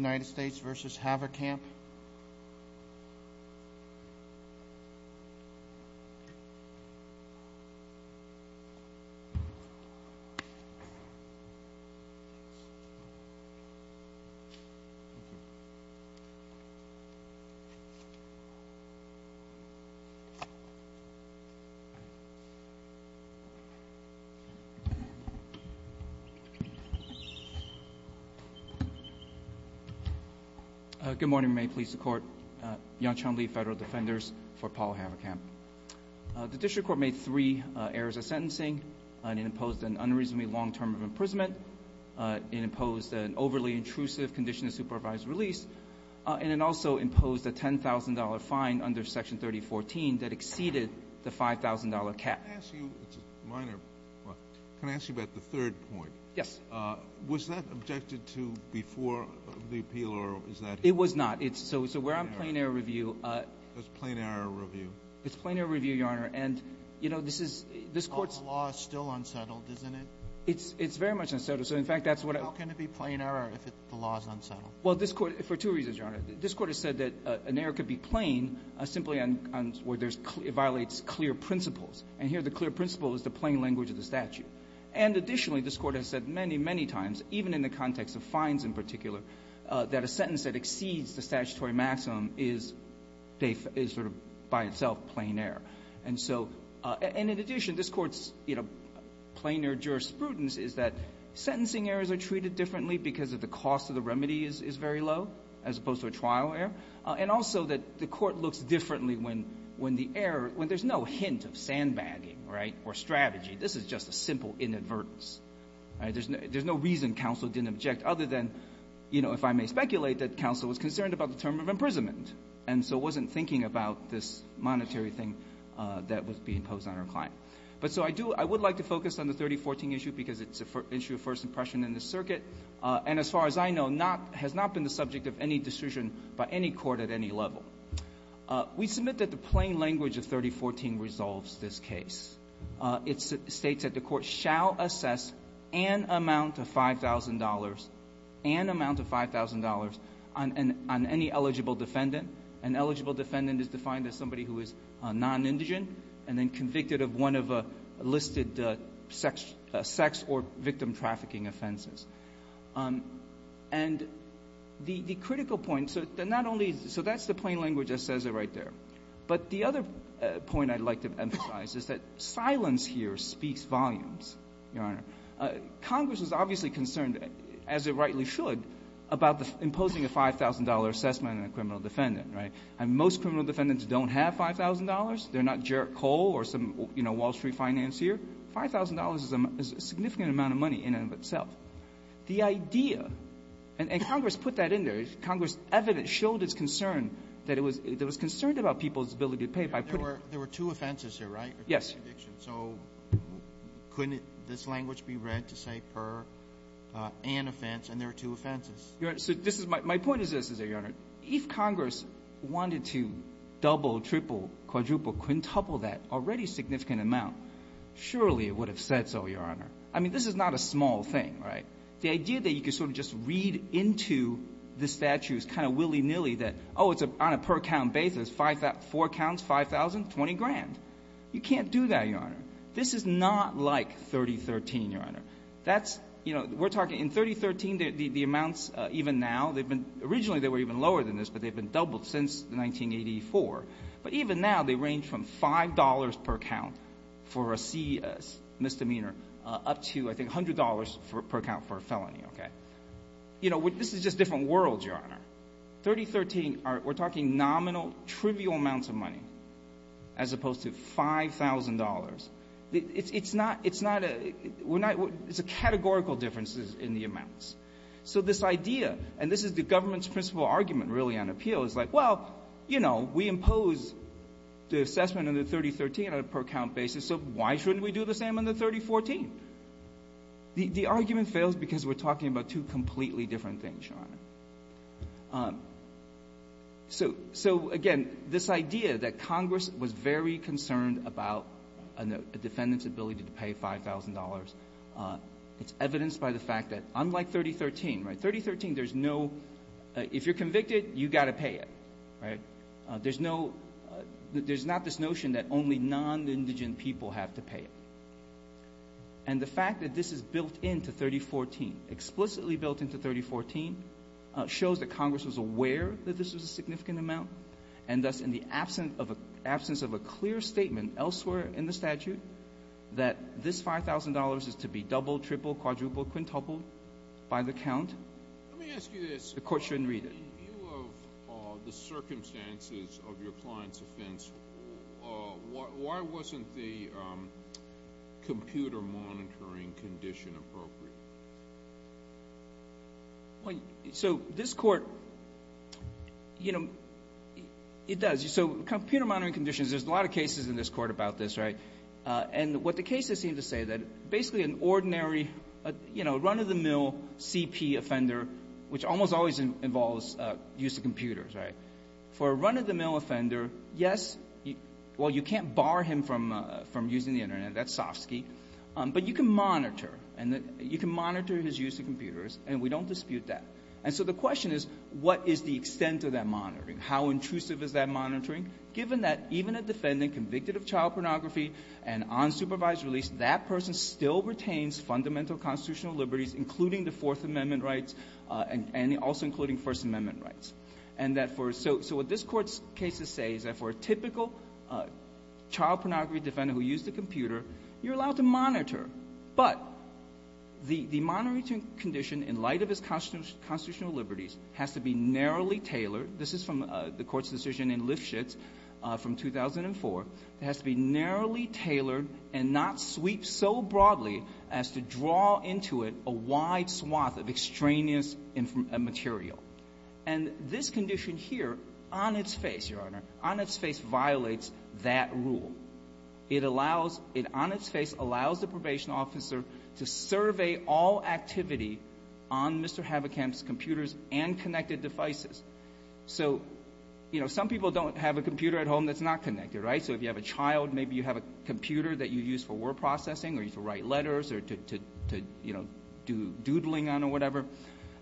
v. Haverkamp. Good morning. May it please the Court. Yongchun Lee, Federal Defenders, for Paul Haverkamp. The district court made three errors of sentencing. It imposed an unreasonably long term of imprisonment. It imposed an overly intrusive condition of supervised release. And it also imposed a $10,000 fine under Section 3014 that exceeded the $5,000 cap. Can I ask you about the third point? Yes. Was that objected to before the appeal, or is that here? It was not. So where I'm playing error review. That's plain error review. It's plain error review, Your Honor. And, you know, this is – this Court's – But the law is still unsettled, isn't it? It's very much unsettled. So, in fact, that's what I – How can it be plain error if the law is unsettled? Well, this Court – for two reasons, Your Honor. This Court has said that an error could be plain simply on – where there's – it violates clear principles. And here the clear principle is the plain language of the statute. And additionally, this Court has said many, many times, even in the context of fines in particular, that a sentence that exceeds the statutory maximum is by itself plain error. And so – and in addition, this Court's plainer jurisprudence is that sentencing errors are treated differently because the cost of the remedy is very low, as opposed to a trial error, and also that the Court looks differently when the error – when there's no hint of sandbagging, right, or strategy. This is just a simple inadvertence. There's no reason counsel didn't object other than, you know, if I may speculate, that counsel was concerned about the term of imprisonment, and so wasn't thinking about this monetary thing that was being imposed on her client. But so I do – I would like to focus on the 3014 issue because it's an issue of first impression in this circuit, and as far as I know, not – has not been the subject of any decision by any court at any level. We submit that the plain language of 3014 resolves this case. It states that the Court shall assess an amount of $5,000 – an amount of $5,000 on any eligible defendant. An eligible defendant is defined as somebody who is non-indigent and then convicted of one of listed sex or victim trafficking offenses. And the critical point – so not only – so that's the plain language that says it right there. But the other point I'd like to emphasize is that silence here speaks volumes, Your Honor. Congress is obviously concerned, as it rightly should, about imposing a $5,000 assessment on a criminal defendant, right? And most criminal defendants don't have $5,000. They're not Jarek Cole or some, you know, Wall Street financier. $5,000 is a significant amount of money in and of itself. The idea – and Congress put that in there. Congress evidently showed its concern that it was – it was concerned about people's ability to pay by putting – There were two offenses here, right? Yes. So couldn't this language be read to say per an offense, and there are two offenses? So this is – my point is this, is that, Your Honor, if Congress wanted to double, triple, quadruple, quintuple that already significant amount, surely it would have said so, Your Honor. I mean, this is not a small thing, right? The idea that you could sort of just read into the statutes kind of willy-nilly that, oh, it's on a per count basis, four counts, 5,000, 20 grand. You can't do that, Your Honor. This is not like 3013, Your Honor. That's – you know, we're talking – in 3013, the amounts even now, they've been – originally they were even lower than this, but they've been doubled since 1984. But even now, they range from $5 per count for a misdemeanor up to, I think, $100 per count for a felony, okay? You know, this is just different worlds, Your Honor. 3013, we're talking nominal, trivial amounts of money as opposed to $5,000. It's not – it's not a – we're not – it's a categorical difference in the amounts. So this idea, and this is the government's principle argument really on appeal, is like, well, you know, we impose the assessment on the 3013 on a per count basis, so why shouldn't we do the same on the 3014? The argument fails because we're talking about two completely different things, Your Honor. So, again, this idea that Congress was very concerned about a defendant's ability to pay $5,000, it's evidenced by the fact that unlike 3013, right, 3013, there's no – if you're convicted, you've got to pay it. Right? There's no – there's not this notion that only non-Indigen people have to pay it. And the fact that this is built into 3014, explicitly built into 3014, shows that Congress was aware that this was a significant amount, and thus in the absence of a clear statement elsewhere in the statute that this $5,000 is to be doubled, tripled, quadrupled, quintupled by the count, the court shouldn't read it. In view of the circumstances of your client's offense, why wasn't the computer monitoring condition appropriate? So this court, you know, it does. So computer monitoring conditions, there's a lot of cases in this court about this, right? And what the cases seem to say that basically an ordinary, you know, run-of-the-mill CP offender, which almost always involves use of computers, right? For a run-of-the-mill offender, yes, well, you can't bar him from using the Internet. That's Sofsky. But you can monitor, and you can monitor his use of computers, and we don't dispute that. And so the question is, what is the extent of that monitoring? How intrusive is that monitoring? Given that even a defendant convicted of child pornography and unsupervised release, that person still retains fundamental constitutional liberties, including the Fourth Amendment rights, and also including First Amendment rights. And that for so what this Court's cases say is that for a typical child pornography defendant who used a computer, you're allowed to monitor. But the monitoring condition in light of his constitutional liberties has to be narrowly tailored. This is from the Court's decision in Lifshitz from 2004. It has to be narrowly tailored and not sweep so broadly as to draw into it a wide swath of extraneous material. And this condition here, on its face, Your Honor, on its face violates that rule. It allows – it on its face allows the probation officer to survey all activity on Mr. Havokamp's computers and connected devices. So, you know, some people don't have a computer at home that's not connected, right? So if you have a child, maybe you have a computer that you use for word processing or to write letters or to, you know, do doodling on or whatever.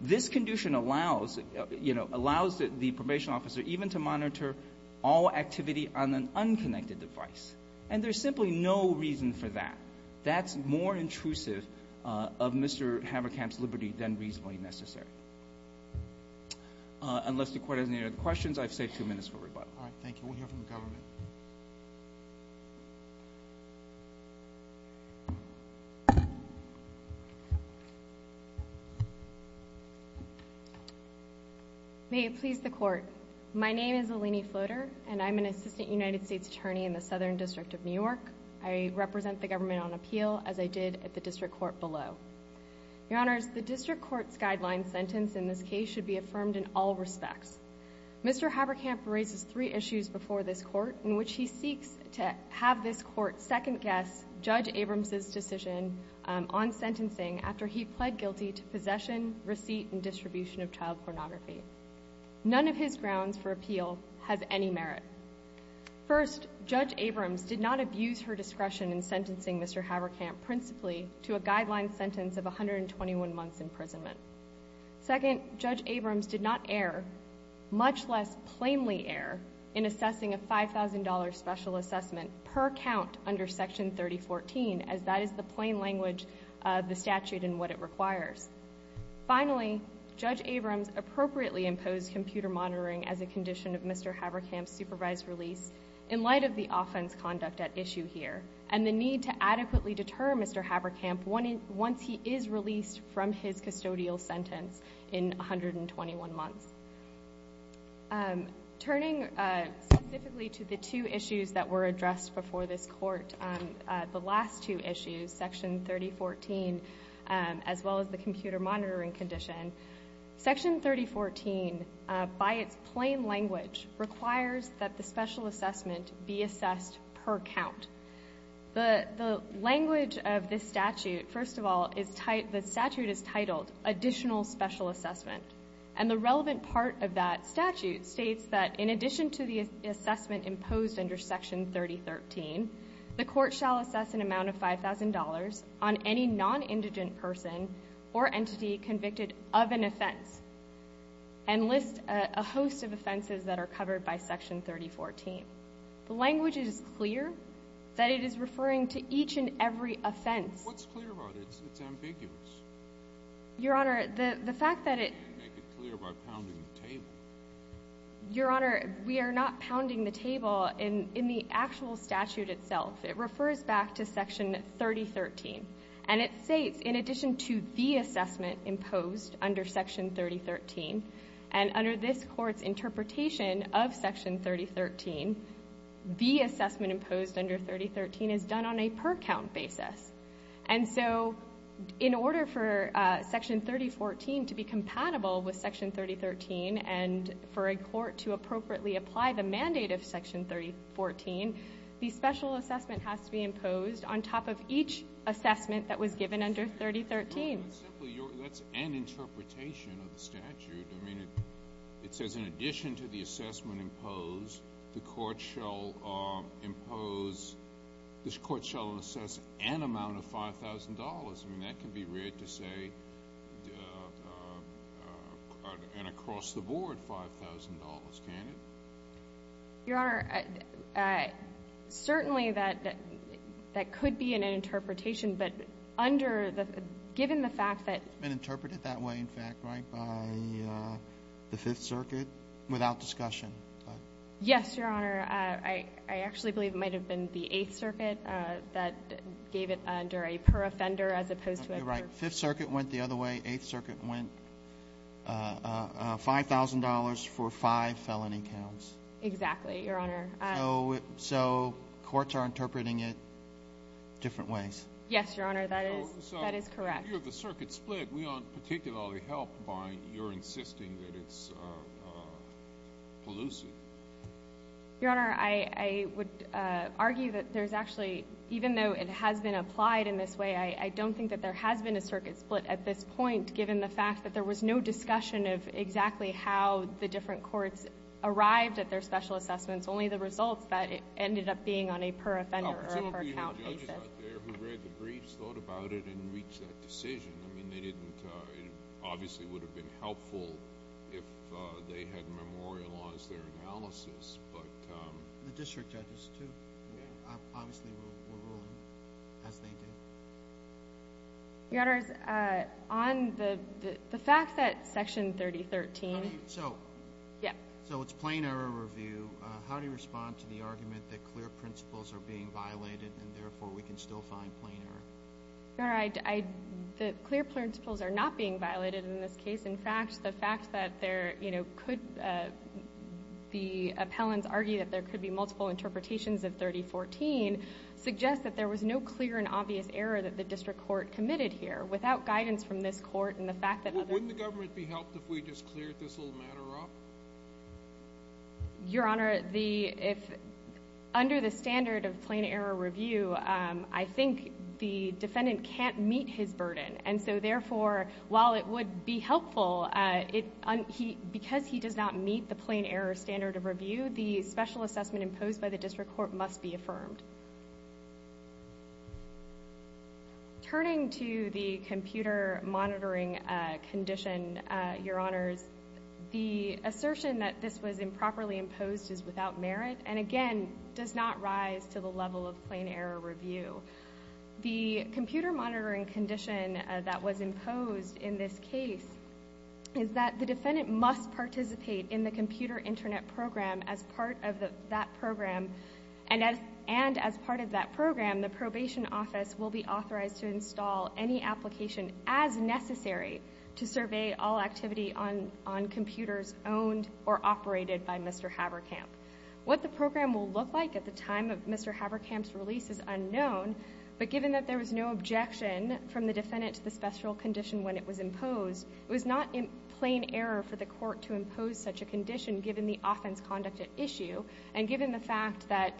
This condition allows, you know, allows the probation officer even to monitor all activity on an unconnected device. And there's simply no reason for that. That's more intrusive of Mr. Havokamp's liberty than reasonably necessary. Unless the Court has any other questions, I've saved two minutes for rebuttal. All right. Thank you. We'll hear from the government. May it please the Court. My name is Eleni Floater, and I'm an Assistant United States Attorney in the Southern District of New York. I represent the government on appeal, as I did at the District Court below. Your Honors, the District Court's guideline sentence in this case should be affirmed in all respects. Mr. Havokamp raises three issues before this Court in which he seeks to have this Court second-guess Judge Abrams' decision on sentencing after he pled guilty to possession, receipt, and distribution of child pornography. None of his grounds for appeal has any merit. First, Judge Abrams did not abuse her discretion in sentencing Mr. Havokamp principally to a guideline sentence of 121 months' imprisonment. Second, Judge Abrams did not err, much less plainly err, in assessing a $5,000 special assessment per count under Section 3014, as that is the plain language of the statute and what it requires. Finally, Judge Abrams appropriately imposed computer monitoring as a condition of Mr. Havokamp's supervised release in light of the offense conduct at issue here and the need to adequately deter Mr. Havokamp once he is released from his custodial sentence in 121 months. Turning specifically to the two issues that were addressed before this Court, the last two issues, Section 3014, as well as the computer monitoring condition, Section 3014, by its plain language, requires that the special assessment be assessed per count. The language of this statute, first of all, the statute is titled Additional Special Assessment, and the relevant part of that statute states that in addition to the assessment imposed under Section 3013, the Court shall assess an amount of $5,000 on any nonindigent person or entity convicted of an offense and list a host of offenses that are covered by Section 3014. The language is clear that it is referring to each and every offense. What's clear about it? It's ambiguous. Your Honor, the fact that it You can't make it clear by pounding the table. Your Honor, we are not pounding the table. In the actual statute itself, it refers back to Section 3013, and it states in addition to the assessment imposed under Section 3013, and under this Court's interpretation of Section 3013, the assessment imposed under 3013 is done on a per-count basis. And so in order for Section 3014 to be compatible with Section 3013 and for a court to appropriately apply the mandate of Section 3014, the special assessment has to be imposed on top of each assessment that was given under 3013. Well, simply, that's an interpretation of the statute. I mean, it says in addition to the assessment imposed, the Court shall impose this Court shall assess an amount of $5,000. I mean, that can be read to say an across-the-board $5,000, can't it? Your Honor, certainly that could be an interpretation. But given the fact that It's been interpreted that way, in fact, right, the Fifth Circuit, without discussion. Yes, Your Honor. I actually believe it might have been the Eighth Circuit that gave it under a per-offender as opposed to a per- Okay, right. Fifth Circuit went the other way. Eighth Circuit went $5,000 for five felony counts. Exactly, Your Honor. So courts are interpreting it different ways. Yes, Your Honor. That is correct. In view of the circuit split, we aren't particularly helped by your insisting that it's elusive. Your Honor, I would argue that there's actually, even though it has been applied in this way, I don't think that there has been a circuit split at this point, given the fact that there was no discussion of exactly how the different courts arrived at their special assessments, only the results that ended up being on a per-offender or per-count basis. The district judges out there who read the briefs thought about it and reached that decision. I mean, they didn't, it obviously would have been helpful if they had memorialized their analysis, but- The district judges, too. Obviously, we'll rule as they did. Your Honor, on the fact that Section 3013- So- Yes. So it's plain error review. How do you respond to the argument that clear principles are being violated and therefore we can still find plain error? Your Honor, the clear principles are not being violated in this case. In fact, the fact that there could be, the appellants argue that there could be multiple interpretations of 3014 suggests that there was no clear and obvious error that the district court committed here. Without guidance from this court and the fact that other- Wouldn't the government be helped if we just cleared this whole matter up? Your Honor, under the standard of plain error review, I think the defendant can't meet his burden. And so, therefore, while it would be helpful, because he does not meet the plain error standard of review, the special assessment imposed by the district court must be affirmed. Turning to the computer monitoring condition, Your Honors, the assertion that this was improperly imposed is without merit and, again, does not rise to the level of plain error review. The computer monitoring condition that was imposed in this case is that the defendant must participate in the computer internet program as part of that program, and as part of that program, the probation office will be authorized to install any application as necessary to survey all activity on computers owned or operated by Mr. Haberkamp. What the program will look like at the time of Mr. Haberkamp's release is unknown, but given that there was no objection from the defendant to the special condition when it was imposed, it was not in plain error for the court to impose such a condition given the offense conduct at issue and given the fact that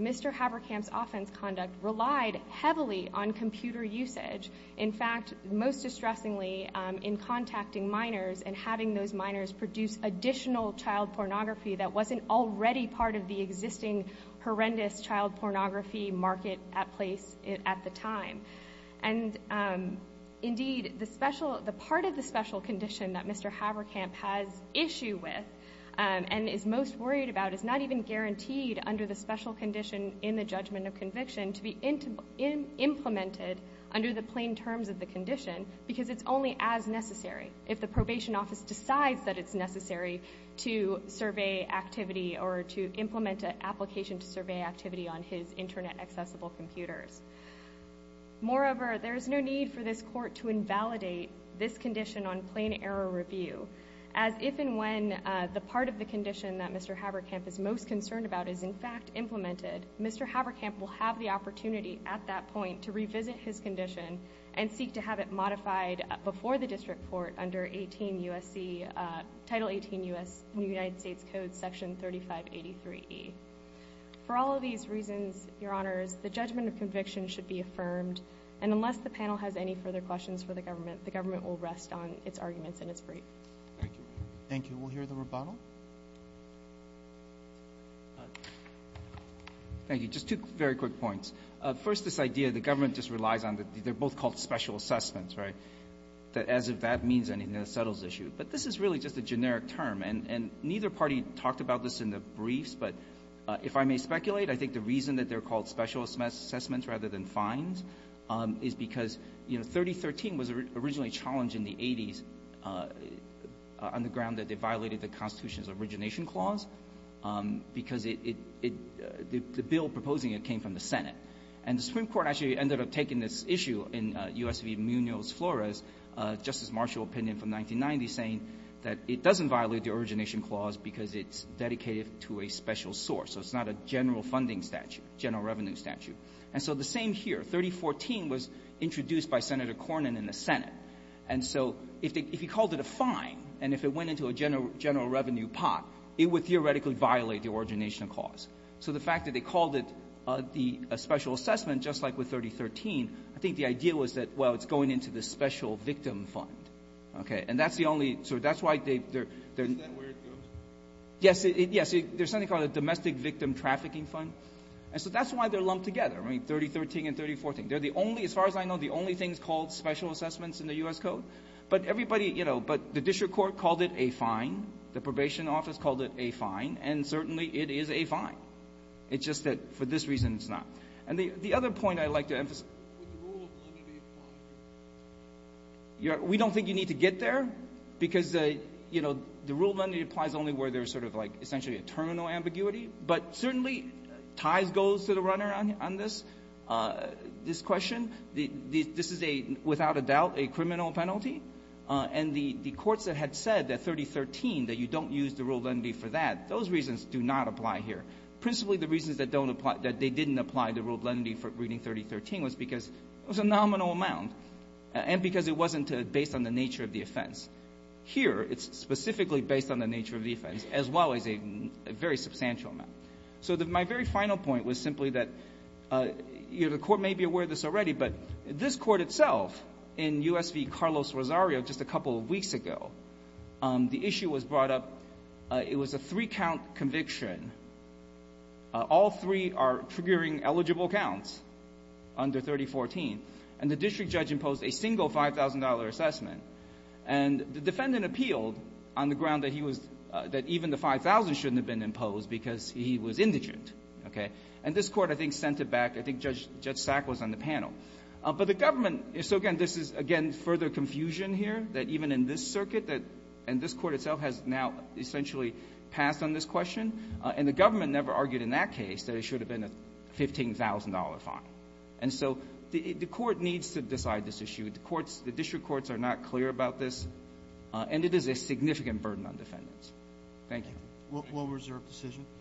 Mr. Haberkamp's offense conduct relied heavily on computer usage. In fact, most distressingly, in contacting minors and having those minors produce additional child pornography that wasn't already part of the existing horrendous child pornography market at the time. And, indeed, the part of the special condition that Mr. Haberkamp has issue with and is most worried about is not even guaranteed under the special condition in the judgment of conviction to be implemented under the plain terms of the condition because it's only as necessary. If the probation office decides that it's necessary to survey activity or to implement an application to survey activity on his internet accessible computers. Moreover, there is no need for this court to invalidate this condition on plain error review as if and when the part of the condition that Mr. Haberkamp is most concerned about is in fact implemented, Mr. Haberkamp will have the opportunity at that point to revisit his condition and seek to have it modified before the district court under Title 18 U.S. New United States Code Section 3583E. For all of these reasons, Your Honors, the judgment of conviction should be affirmed and unless the panel has any further questions for the government, the government will rest on its arguments in its brief. Thank you. Thank you. We'll hear the rebuttal. Thank you. Just two very quick points. First, this idea the government just relies on that they're both called special assessments, right, as if that means anything that settles the issue. But this is really just a generic term, and neither party talked about this in the briefs, but if I may speculate, I think the reason that they're called special assessments rather than fines is because 3013 was originally challenged in the 80s on the ground that they violated the Constitution's origination clause because the bill proposing it came from the Senate. And the Supreme Court actually ended up taking this issue in U.S. v. Munoz-Flores, Justice Marshall's opinion from 1990, saying that it doesn't violate the origination clause because it's dedicated to a special source, so it's not a general funding statute, general revenue statute. And so the same here. 3014 was introduced by Senator Cornyn in the Senate. And so if you called it a fine and if it went into a general revenue pot, it would theoretically violate the origination clause. So the fact that they called it a special assessment just like with 3013, I think the idea was that, well, it's going into the special victim fund, okay? And that's the only – so that's why they're – Is that where it goes? Yes. There's something called a domestic victim trafficking fund. And so that's why they're lumped together, I mean, 3013 and 3014. They're the only – as far as I know, the only things called special assessments in the U.S. Code. But everybody – you know, but the district court called it a fine. The probation office called it a fine. And certainly it is a fine. It's just that for this reason it's not. And the other point I'd like to emphasize – Would the rule of lenity apply here? We don't think you need to get there because, you know, the rule of lenity applies only where there's sort of like essentially a terminal ambiguity. But certainly ties goes to the runner on this question. This is a – without a doubt a criminal penalty. And the courts that had said that 3013, that you don't use the rule of lenity for that, those reasons do not apply here. Principally the reasons that don't apply – that they didn't apply the rule of lenity for reading 3013 was because it was a nominal amount and because it wasn't based on the nature of the offense. Here it's specifically based on the nature of the offense as well as a very substantial nominal amount. So my very final point was simply that the court may be aware of this already, but this court itself in U.S. v. Carlos Rosario just a couple of weeks ago, the issue was brought up. It was a three-count conviction. All three are triggering eligible counts under 3014. And the district judge imposed a single $5,000 assessment. And the defendant appealed on the ground that he was – that even the $5,000 shouldn't have been imposed because he was indigent, okay? And this Court I think sent it back. I think Judge Sack was on the panel. But the government – so again, this is, again, further confusion here that even in this circuit that – and this Court itself has now essentially passed on this question. And the government never argued in that case that it should have been a $15,000 fine. And so the Court needs to decide this issue. The courts – the district courts are not clear about this. And it is a significant burden on defendants. Thank you. What was your decision?